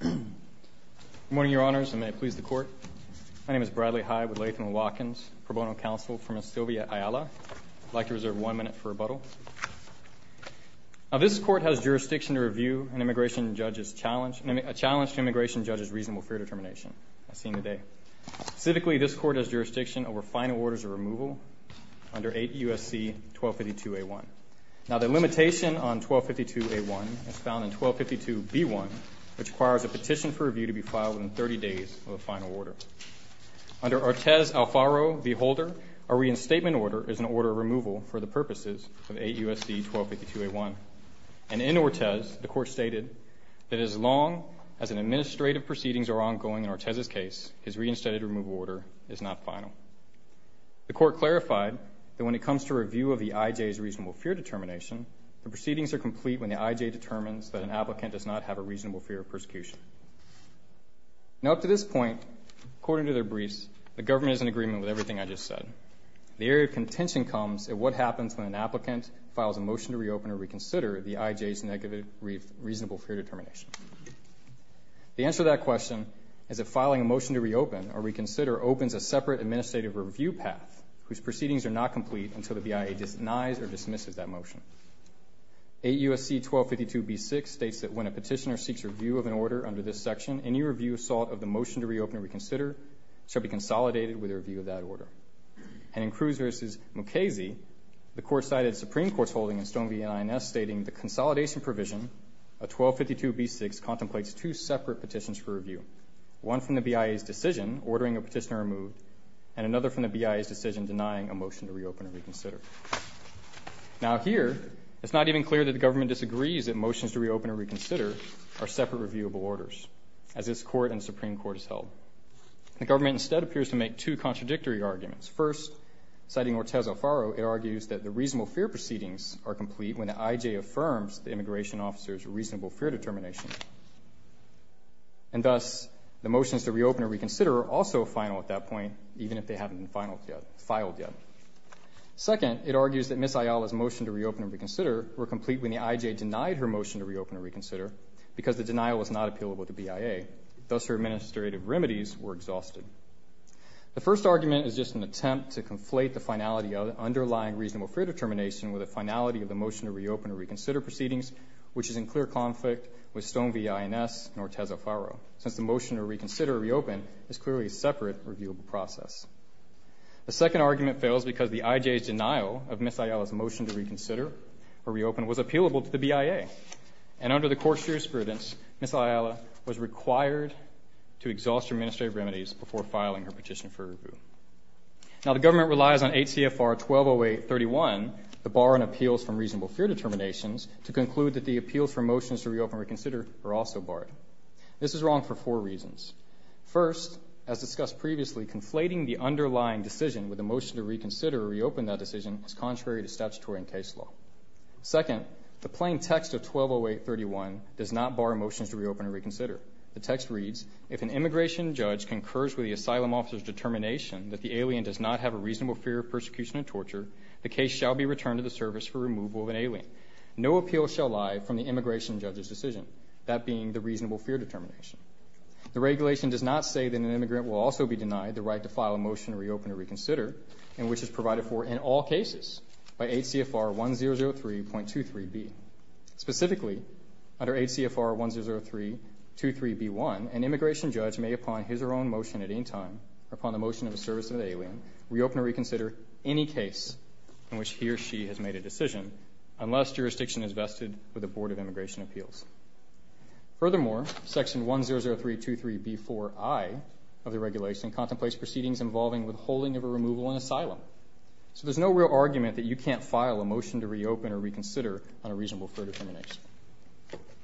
Good morning, Your Honors, and may it please the Court. My name is Bradley Hyde with Latham Watkins Pro Bono Counsel for Ms. Sylvia Ayala. I'd like to reserve one minute for rebuttal. This Court has jurisdiction to review an immigration judge's challenge to an immigration judge's reasonable fear determination. Specifically, this Court has jurisdiction over final orders of removal under 8 U.S.C. 1252A1. Now, the limitation on 1252A1 is found in 1252B1, which requires a petition for review to be filed within 30 days of a final order. Under Ortez Alfaro v. Holder, a reinstatement order is an order of removal for the purposes of 8 U.S.C. 1252A1. And in Ortez, the Court stated that as long as an administrative proceedings are ongoing in Ortez's case, his reinstated removal order is not final. The Court clarified that when it comes to review of the I.J.'s reasonable fear determination, the proceedings are complete when the I.J. determines that an applicant does not have a reasonable fear of persecution. Now, up to this point, according to their briefs, the government is in agreement with everything I just said. The area of contention comes at what happens when an applicant files a motion to reopen or reconsider the I.J.'s reasonable fear determination. The answer to that question is that filing a motion to reopen or reconsider opens a separate administrative review path whose proceedings are not complete until the BIA denies or dismisses that motion. 8 U.S.C. 1252B6 states that when a petitioner seeks review of an order under this section, any review of the motion to reopen or reconsider shall be consolidated with a review of that order. And in Cruz v. Mukasey, the Court cited Supreme Court's holding in Stone v. INS stating the consolidation provision of 1252B6 contemplates two separate petitions for review, one from the BIA's decision, ordering a petitioner removed, and another from the BIA's decision denying a motion to reopen or reconsider. Now here, it's not even clear that the government disagrees that motions to reopen or reconsider are separate reviewable orders, as this Court and Supreme Court has held. The government instead appears to make two contradictory arguments. First, citing Ortez Alfaro, it argues that the reasonable fear proceedings are complete when the I.J. affirms the immigration officer's reasonable fear determination. And thus, the motions to reopen or reconsider are also final at that point, even if they haven't been filed yet. Second, it argues that Ms. Ayala's motion to reopen or reconsider were complete when the I.J. denied her motion to reopen or reconsider because the denial was not appealable to BIA. Thus, her administrative remedies were exhausted. The first argument is just an attempt to conflate the finality of the underlying reasonable fear determination with the finality of the motion to reopen or reconsider proceedings, which is in clear conflict with Stone v. Ines and Ortez Alfaro, since the motion to reconsider or reopen is clearly a separate reviewable process. The second argument fails because the I.J.'s denial of Ms. Ayala's motion to reconsider or reopen was appealable to the BIA. And under the Court's jurisprudence, Ms. Ayala was required to exhaust her administrative remedies before filing her petition for review. Now, the government relies on 8 CFR 1208.31, the Bar and Appeals from Reasonable Fear Determinations, to conclude that the appeals for motions to reopen or reconsider are also barred. This is wrong for four reasons. First, as discussed previously, conflating the underlying decision with the motion to reconsider or reopen that decision is contrary to statutory and case law. Second, the plain text of 1208.31 does not bar motions to reopen or reconsider. The text reads, if an immigration judge concurs with the asylum officer's determination that the alien does not have a reasonable fear of persecution and torture, the case shall be returned to the service for removal of an alien. No appeal shall lie from the immigration judge's decision, that being the reasonable fear determination. The regulation does not say that an immigrant will also be denied the right to file a motion to reopen or reconsider, and which is provided for in all cases by 8 CFR 1003.23b. Specifically, under 8 CFR 1003.23b.1, an immigration judge may, upon his or her own motion at any time, upon the motion of the service of the alien, reopen or reconsider any case in which he or she has made a decision, unless jurisdiction is vested with the Board of Immigration Appeals. Furthermore, section 1003.23b.4i of the regulation contemplates proceedings involving withholding of a removal in asylum. So there's no real argument that you can't file a motion to reopen or reconsider on a reasonable fear determination.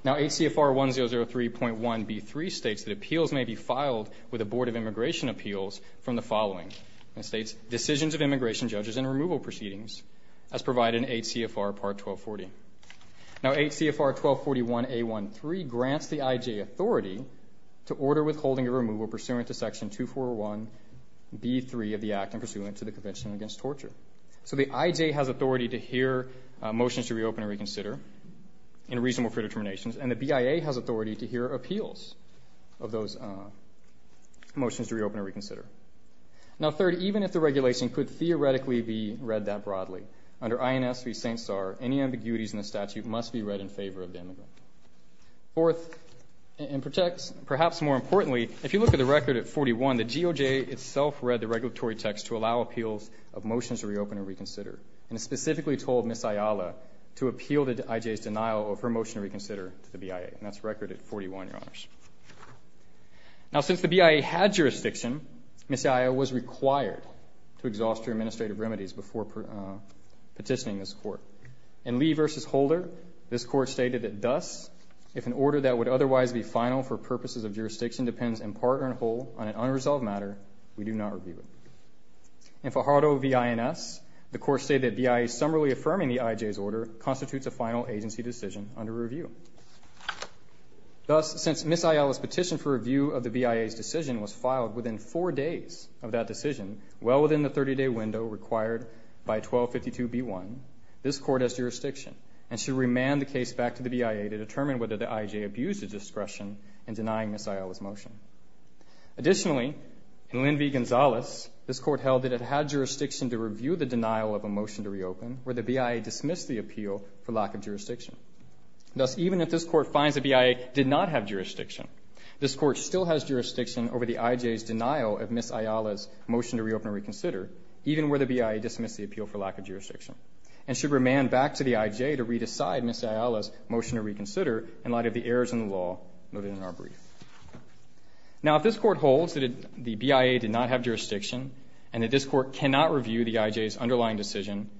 Now 8 CFR 1003.1b.3 states that appeals may be filed with the Board of Immigration Appeals from the following. It states, decisions of immigration judges and removal proceedings, as provided in 8 CFR part 1240. Now 8 CFR 1241a.1.3 grants the IJ authority to order withholding or removal pursuant to section 241b.3 of the Act and pursuant to the Convention Against Torture. So the IJ has authority to hear motions to reopen or reconsider in reasonable fear determinations, and the BIA has authority to hear appeals of those motions to reopen or reconsider. Now third, even if the regulation could theoretically be read that broadly, under INS v. St. Czar, any ambiguities in the statute must be read in favor of the immigrant. Fourth, and perhaps more importantly, if you look at the record at 41, the GOJ itself read the regulatory text to allow appeals of motions to reopen or reconsider, and it specifically told Ms. Ayala to appeal the IJ's denial of her motion to reconsider to the BIA. And that's record at 41, Your Honors. Now since the BIA had jurisdiction, Ms. Ayala was required to exhaust her administrative remedies before petitioning this Court. In Lee v. Holder, this Court stated that thus, if an order that would otherwise be final for purposes of jurisdiction depends in part or in whole on an unresolved matter, we do not review it. In Fajardo v. INS, the Court stated that BIA summarily affirming the IJ's order constitutes a final agency decision under review. Thus, since Ms. Ayala's petition for review of the BIA's decision was filed within four days of that decision, well within the 30-day window required by 1252b1, this Court has jurisdiction and should remand the case back to the BIA to determine whether the IJ abused its discretion in denying Ms. Ayala's motion. Additionally, in Lynn v. Gonzalez, this Court held that it had jurisdiction to review the denial of a motion to reopen where the BIA dismissed the appeal for lack of jurisdiction. Thus, even if this Court finds that BIA did not have jurisdiction, this Court still has jurisdiction over the IJ's denial of Ms. Ayala's motion to reopen or reconsider, even where the BIA dismissed the appeal for lack of jurisdiction, and should remand back to the IJ to re-decide Ms. Ayala's motion to reconsider in light of the errors in the law noted in our brief. Now, if this Court holds that the BIA did not have jurisdiction, and that this Court cannot review the IJ's underlying decision,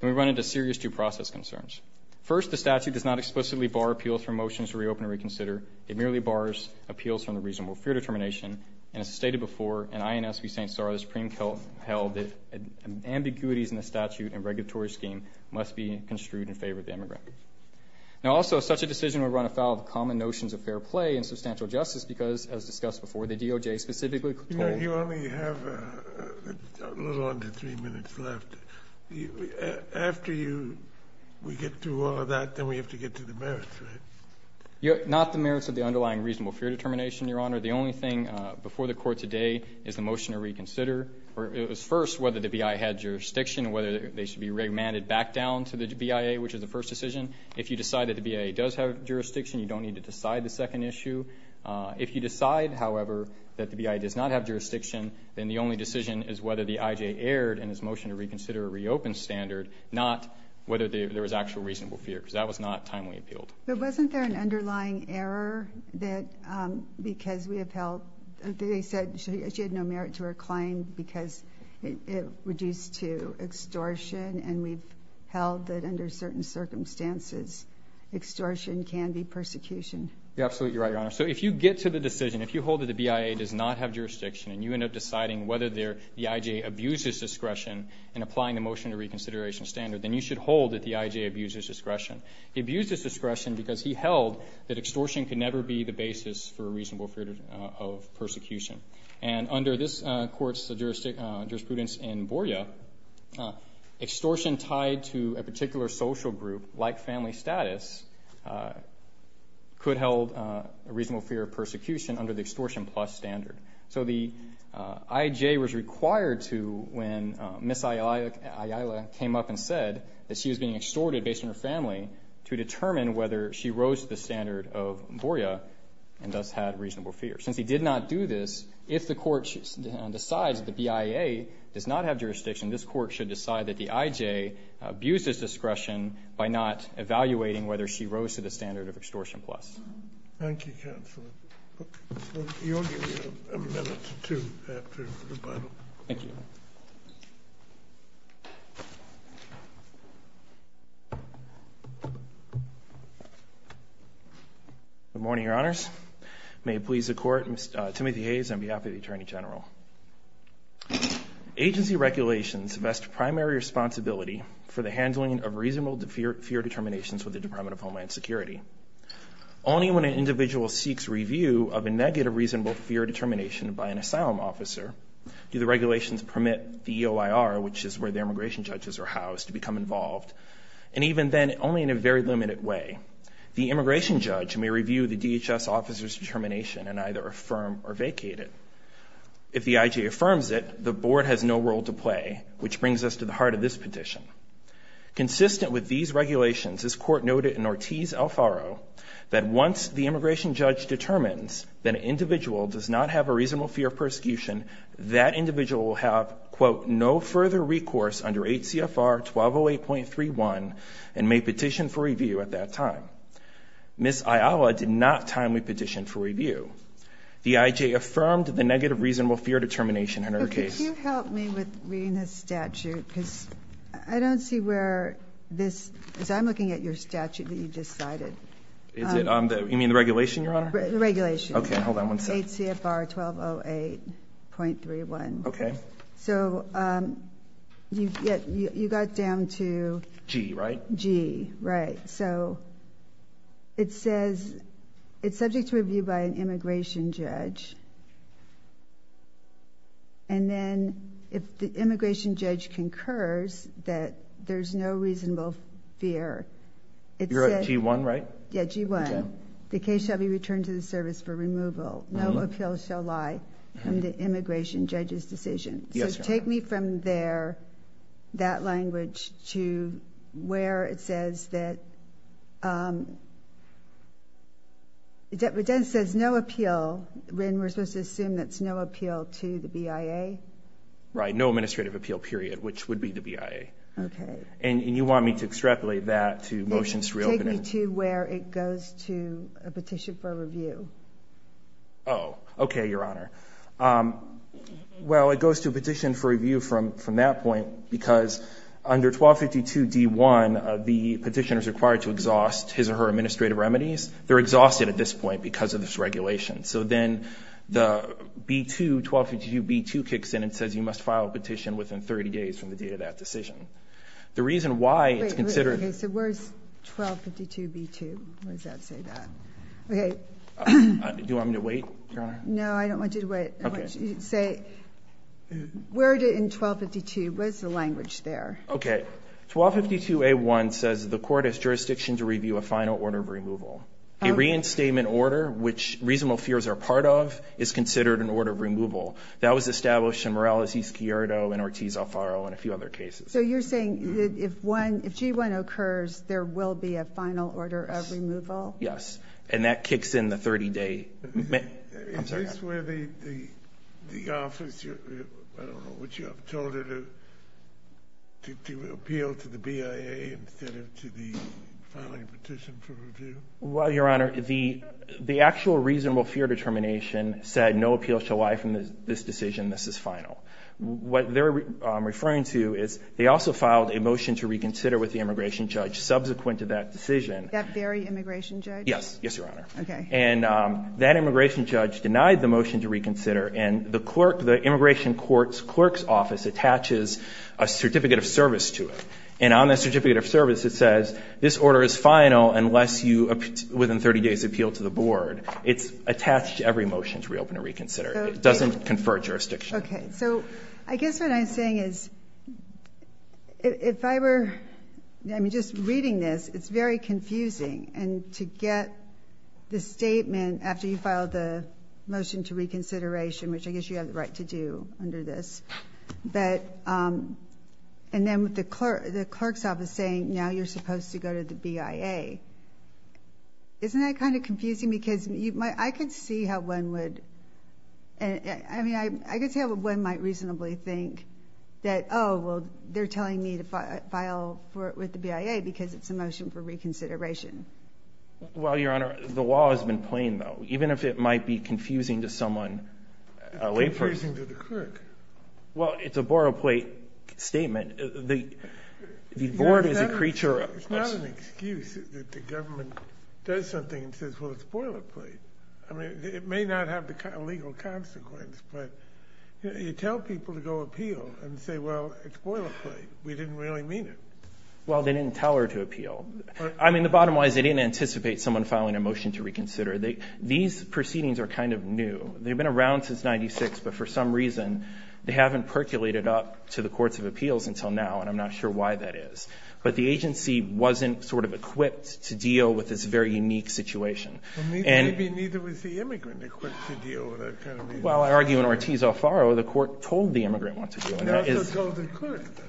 then we run into serious due process concerns. First, the statute does not explicitly bar appeals for motions to reopen or reconsider. It merely bars appeals from the reasonable fear determination, and as stated before, in INS v. St. Sarah, the Supreme Court held that ambiguities in the statute and regulatory scheme must be construed in favor of the immigrant. Now, also, such a decision would run afoul of the common notions of fair play and substantial justice, because, as discussed before, the DOJ specifically told the Court that the motion to reconsider in light of the errors in the law noted in our brief. Kennedy, you only have a little under 3 minutes left. After you get through all of that, then we have to get to the merits, right? Not the merits of the underlying reasonable fear determination, Your Honor. The only thing before the Court today is the motion to reconsider. It was first whether the BIA had jurisdiction and whether they should be re-mandated back down to the BIA, which is the first decision. If you decide that the BIA does have jurisdiction, you don't need to decide the second issue. If you decide, however, that the BIA does not have jurisdiction, then the only decision is whether the IJ erred in its motion to reconsider a reopened standard, not whether there was actual reasonable fear, because that was not timely appealed. But wasn't there an underlying error that, because we have held, they said she had no merit to reclaim because it reduced to extortion, and we've held that under certain circumstances, extortion can be persecution? Absolutely right, Your Honor. So if you get to the decision, if you hold that the BIA does not have jurisdiction, and you end up deciding whether the IJ abused its discretion in applying the motion to reconsideration standard, then you should hold that the IJ abused its discretion. He abused its discretion because he held that extortion could never be the basis for a reasonable fear of persecution. And under this Court's jurisprudence in Borja, extortion tied to a particular social group, like family status, could hold a reasonable fear of persecution under the extortion plus standard. So the IJ was required to, when Ms. Ayala came up and said that she was being extorted based on her family, to determine whether she rose to the standard of Borja and thus had reasonable fear. Since he did not do this, if the Court decides that the BIA does not have jurisdiction, this Court should decide that the IJ abused its discretion by not evaluating whether she rose to the standard of extortion plus. Thank you, Counselor. You'll give me a minute or two after rebuttal. Thank you. Good morning, Your Honors. May it please the Court, Mr. Timothy Hayes on behalf of the Attorney General. Agency regulations vest primary responsibility for the handling of reasonable fear determinations with the Department of Homeland Security. Only when an individual seeks review of a negative reasonable fear determination by an asylum officer do the regulations permit the EOIR, which is where the immigration judges are housed, to become involved. And even then, only in a very limited way, the immigration judge may review the DHS officer's determination and either affirm or vacate it. If the IJ affirms it, the Board has no role to play, which brings us to the heart of this petition. Consistent with these regulations, this Court noted in Ortiz-Alfaro that once the immigration judge determines that an individual does not have a reasonable fear of persecution, that individual will have, quote, no further recourse under 8 CFR 1208.31 and may petition for review at that time. Ms. Ayala did not timely petition for review. The IJ affirmed the negative reasonable fear determination in her case. Could you help me with reading this statute? Because I don't see where this, as I'm looking at your statute that you just cited. Is it on the, you mean the regulation, Your Honor? The regulation. Okay, hold on one second. 8 CFR 1208.31. Okay. So you got down to G, right? G, right. So it says it's subject to review by an immigration judge. And then if the immigration judge concurs that there's no reasonable fear, it says You're at G1, right? Yeah, G1. The case shall be returned to the service for removal. No appeal shall lie from the immigration judge's decision. Yes, Your Honor. So take me from there, that language, to where it says that it says no appeal, when we're supposed to assume that's no appeal to the BIA? Right, no administrative appeal, period, which would be the BIA. Okay. And you want me to extrapolate that to motions reopening? Where it goes to a petition for review. Oh, okay, Your Honor. Well, it goes to a petition for review from that point, because under 1252 D1, the petitioner is required to exhaust his or her administrative remedies. They're exhausted at this point because of this regulation. So then the B2, 1252 B2 kicks in and says you must file a petition within 30 days from the date of that decision. The reason why it's considered So where's 1252 B2? Where does that say that? Okay. Do you want me to wait, Your Honor? No, I don't want you to wait. I want you to say, where did in 1252, what is the language there? Okay. 1252 A1 says the court has jurisdiction to review a final order of removal. A reinstatement order, which reasonable fears are part of, is considered an order of removal. That was established in Morales v. Schiardo and Ortiz v. Alfaro and a few other cases. So you're saying if G1 occurs, there will be a final order of removal? Yes. And that kicks in the 30 day. Is this where the office, I don't know what you have, told her to appeal to the BIA instead of to the filing petition for review? Well, Your Honor, the actual reasonable fear determination said no appeals shall lie from this decision. This is final. What they're referring to is they also filed a motion to reconsider with the immigration judge subsequent to that decision. That very immigration judge? Yes. Yes, Your Honor. Okay. And that immigration judge denied the motion to reconsider and the clerk, the immigration court's clerk's office attaches a certificate of service to it. And on the certificate of service, it says this order is final unless you, within 30 days, appeal to the board. It's attached to every motion to reopen and reconsider. It doesn't confer jurisdiction. Okay. So I guess what I'm saying is if I were, I mean, just reading this, it's very confusing. And to get the statement after you filed the motion to reconsideration, which I guess you have the right to do under this, but, and then with the clerk, the clerk's office saying now you're supposed to go to the BIA, isn't that kind of confusing? Because you might, I could see how one would, I mean, I could see how one might reasonably think that, oh, well, they're telling me to file for it with the BIA because it's a motion for reconsideration. Well, Your Honor, the law has been plain though. Even if it might be confusing to someone, a layperson. It's confusing to the clerk. Well, it's a borrow plate statement. The board is a creature of... that the government does something and says, well, it's a boiler plate. I mean, it may not have the legal consequence, but you tell people to go appeal and say, well, it's a boiler plate. We didn't really mean it. Well, they didn't tell her to appeal. I mean, the bottom line is they didn't anticipate someone filing a motion to reconsider. These proceedings are kind of new. They've been around since 96, but for some reason they haven't percolated up to the courts of appeals until now. And I'm not sure why that is. But the agency wasn't sort of equipped to deal with this very unique situation. Well, maybe neither was the immigrant equipped to deal with that kind of thing. Well, I argue in Ortiz-O'Farrill, the court told the immigrant what to do. They also told the clerk that.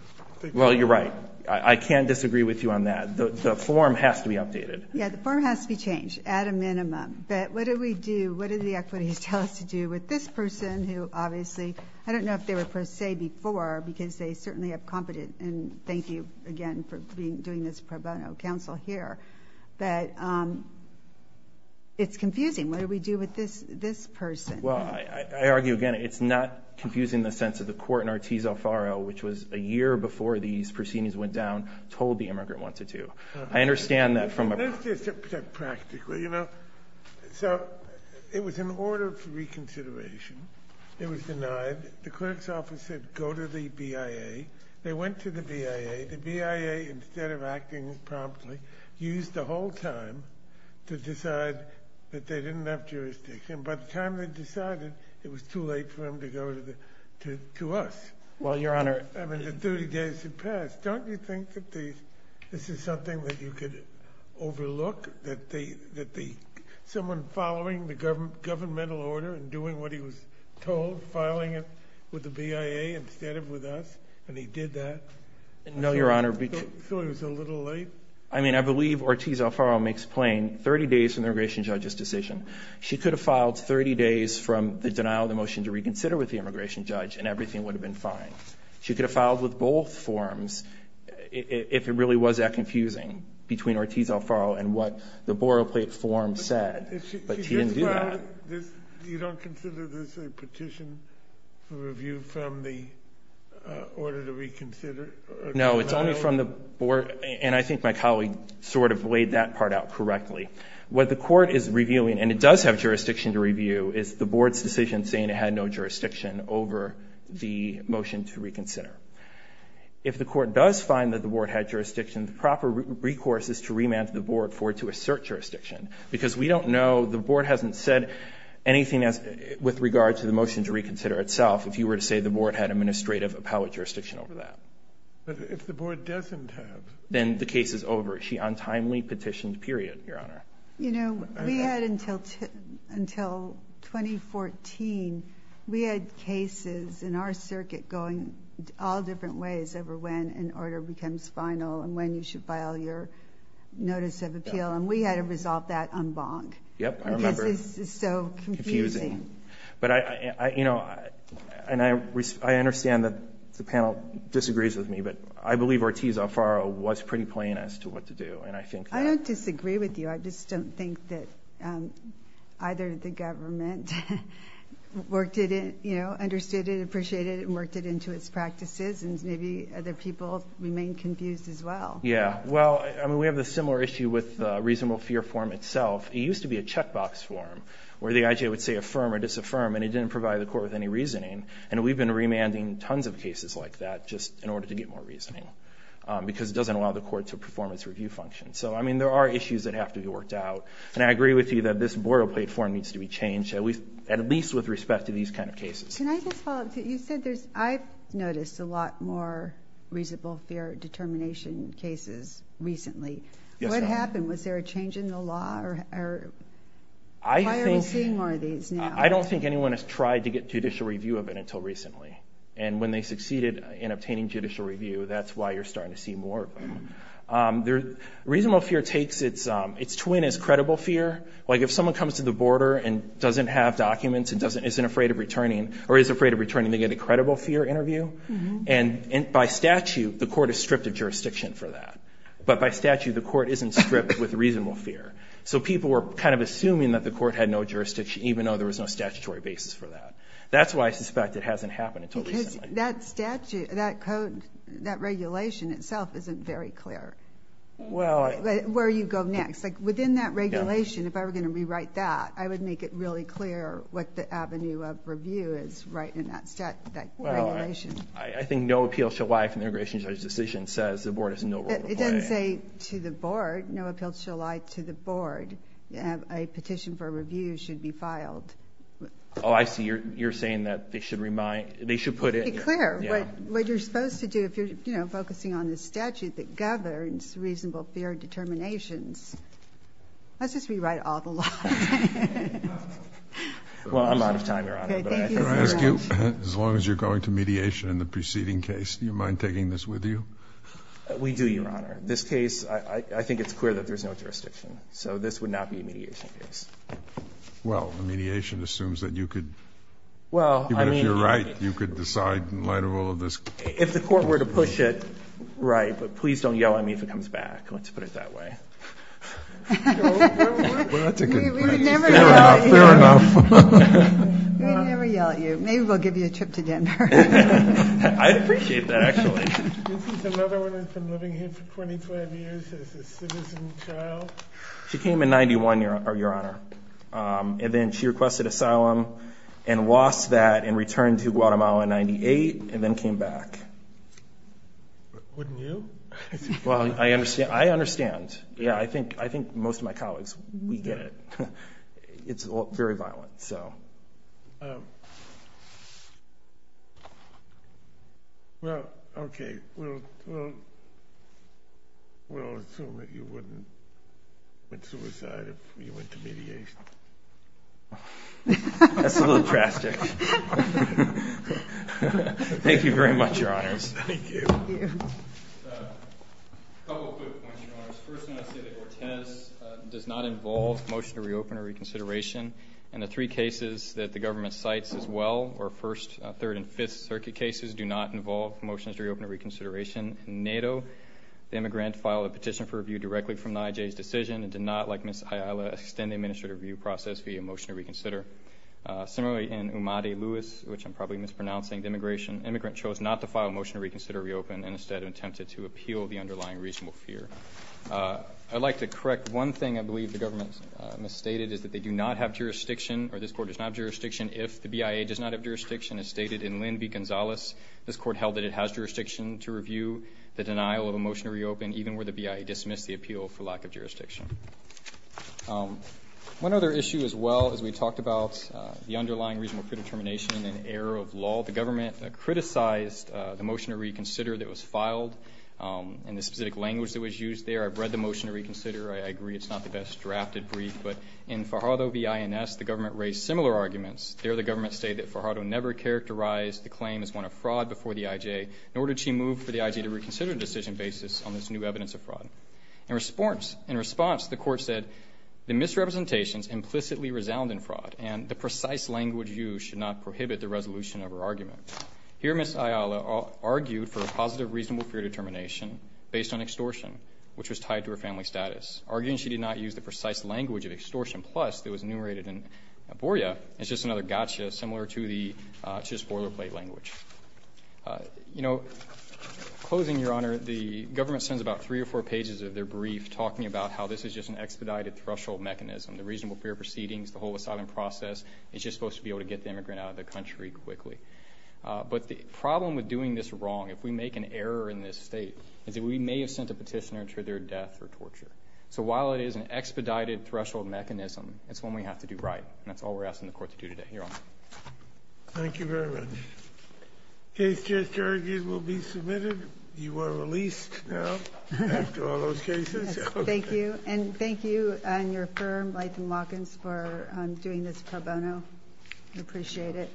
Well, you're right. I can't disagree with you on that. The form has to be updated. Yeah, the form has to be changed at a minimum. But what do we do? What do the equities tell us to do with this person who obviously, I don't know if they say before, because they certainly have competent, and thank you again for doing this pro bono counsel here, that it's confusing. What do we do with this person? Well, I argue again, it's not confusing in the sense of the court in Ortiz-O'Farrill, which was a year before these proceedings went down, told the immigrant what to do. I understand that from a- Let's just say practically, you know. So it was an order of reconsideration. It was denied. The clerk's office said, go to the BIA. They went to the BIA. The BIA, instead of acting promptly, used the whole time to decide that they didn't have jurisdiction. By the time they decided, it was too late for them to go to us. Well, Your Honor- I mean, the 30 days had passed. Don't you think that this is something that you could overlook, that someone following governmental order and doing what he was told, filing it with the BIA instead of with us, and he did that- No, Your Honor. So it was a little late? I mean, I believe Ortiz-O'Farrill makes plain 30 days from the immigration judge's decision. She could have filed 30 days from the denial of the motion to reconsider with the immigration judge, and everything would have been fine. She could have filed with both forms if it really was that confusing between Ortiz-O'Farrill and what the borrow plate form said. But she didn't do that. You don't consider this a petition for review from the order to reconsider? No, it's only from the board. And I think my colleague sort of laid that part out correctly. What the court is reviewing, and it does have jurisdiction to review, is the board's decision saying it had no jurisdiction over the motion to reconsider. If the court does find that the board had jurisdiction, the proper recourse is to remand the board for it to assert jurisdiction. Because we don't know, the board hasn't said anything with regard to the motion to reconsider itself if you were to say the board had administrative appellate jurisdiction over that. But if the board doesn't have- Then the case is over. She untimely petitioned, period, Your Honor. You know, we had until 2014, we had cases in our circuit going all different ways over when an order becomes final and when you should file your notice of appeal. And we had to resolve that en banc. Yep, I remember. Because it's so confusing. But, you know, and I understand that the panel disagrees with me, but I believe Ortiz-Alfaro was pretty plain as to what to do. And I think that- I don't disagree with you. I just don't think that either the government worked it, you know, understood it, appreciated it, and worked it into its practices. And maybe other people remain confused as well. Yeah. Well, I mean, we have a similar issue with reasonable fear form itself. It used to be a checkbox form where the IJA would say affirm or disaffirm, and it didn't provide the court with any reasoning. And we've been remanding tons of cases like that just in order to get more reasoning. Because it doesn't allow the court to perform its review function. So, I mean, there are issues that have to be worked out. And I agree with you that this boilerplate form needs to be changed, at least with respect to these kind of cases. Can I just follow up? You said there's- I've noticed a lot more reasonable fear determination cases recently. What happened? Was there a change in the law, or why are we seeing more of these now? I don't think anyone has tried to get judicial review of it until recently. And when they succeeded in obtaining judicial review, that's why you're starting to see more of them. Reasonable fear takes its twin as credible fear. Like, if someone comes to the border and doesn't have documents and isn't afraid of returning, or is afraid of returning, they get a credible fear interview. And by statute, the court is stripped of jurisdiction for that. But by statute, the court isn't stripped with reasonable fear. So people were kind of assuming that the court had no jurisdiction, even though there was no statutory basis for that. That's why I suspect it hasn't happened until recently. Because that statute, that code, that regulation itself isn't very clear. Well- Where you go next. Like, within that regulation, if I were going to rewrite that, I would make it really clear what the avenue of review is right in that regulation. I think no appeal shall lie from the immigration judge's decision. Says the board has no role to play. It doesn't say to the board, no appeal shall lie to the board. A petition for review should be filed. Oh, I see. You're saying that they should remind- They should put it- Be clear. Yeah. What you're supposed to do, if you're, you know, focusing on the statute that governs reasonable fear determinations, let's just rewrite all the laws. Well, I'm out of time, Your Honor. Okay, thank you so much. Can I ask you, as long as you're going to mediation in the preceding case, do you mind taking this with you? We do, Your Honor. This case, I think it's clear that there's no jurisdiction. So this would not be a mediation case. Well, the mediation assumes that you could- Well, I mean- Even if you're right, you could decide in light of all of this- If the court were to push it, right. But please don't yell at me if it comes back. Let's put it that way. Well, that's a good point. We would never yell at you. Fair enough. We would never yell at you. Maybe we'll give you a trip to Denver. I'd appreciate that, actually. This is another woman who's been living here for 25 years as a citizen child. She came in 91, Your Honor. And then she requested asylum and lost that and returned to Guatemala in 98 and then came back. Wouldn't you? Well, I understand. I understand. Yeah, I think most of my colleagues, we get it. It's very violent. So- Well, okay. We'll assume that you wouldn't commit suicide if you went to mediation. That's a little drastic. Thank you very much, Your Honors. Thank you. A couple quick points, Your Honors. First, I want to say that Cortez does not involve motion to reopen or reconsideration. And the three cases that the government cites as well, or first, third, and fifth circuit cases, do not involve motions to reopen or reconsideration. In NATO, the immigrant filed a petition for review directly from NIJ's decision and did not, like Ms. Ayala, extend the administrative review process via motion to reconsider. Similarly, in Umadi-Lewis, which I'm probably mispronouncing, the immigrant chose not to file a motion to reconsider or reopen and instead attempted to appeal the underlying reasonable fear. I'd like to correct one thing I believe the government misstated, is that they do not have jurisdiction, or this court does not have jurisdiction, if the BIA does not have jurisdiction, as stated in Lynn v. Gonzalez. This court held that it has jurisdiction to review the denial of a motion to reopen, even where the BIA dismissed the appeal for lack of jurisdiction. One other issue as well, as we talked about, the underlying reasonable predetermination and error of law. The government criticized the motion to reconsider that was filed and the specific language that was used there. I've read the motion to reconsider. I agree it's not the best drafted brief. In Fajardo v. INS, the government raised similar arguments. There, the government stated that Fajardo never characterized the claim as one of fraud before the IJ, nor did she move for the IJ to reconsider the decision basis on this new evidence of fraud. In response, the court said the misrepresentations implicitly resound in fraud and the precise language used should not prohibit the resolution of her argument. Here, Ms. Ayala argued for a positive reasonable fear determination based on extortion, which was tied to her family status. Arguing she did not use the precise language of extortion plus that was enumerated in Borja is just another gotcha, similar to the spoiler plate language. You know, closing, Your Honor, the government sends about three or four pages of their brief talking about how this is just an expedited threshold mechanism. The reasonable fear proceedings, the whole asylum process, is just supposed to be able to get the immigrant out of the country quickly. But the problem with doing this wrong, if we make an error in this state, is that we may have sent a petitioner to their death or torture. So while it is an expedited threshold mechanism, it's when we have to do right. And that's all we're asking the court to do today. Your Honor. Thank you very much. Case just argued will be submitted. You are released now after all those cases. Thank you. And thank you and your firm, Leighton Watkins, for doing this pro bono. We appreciate it.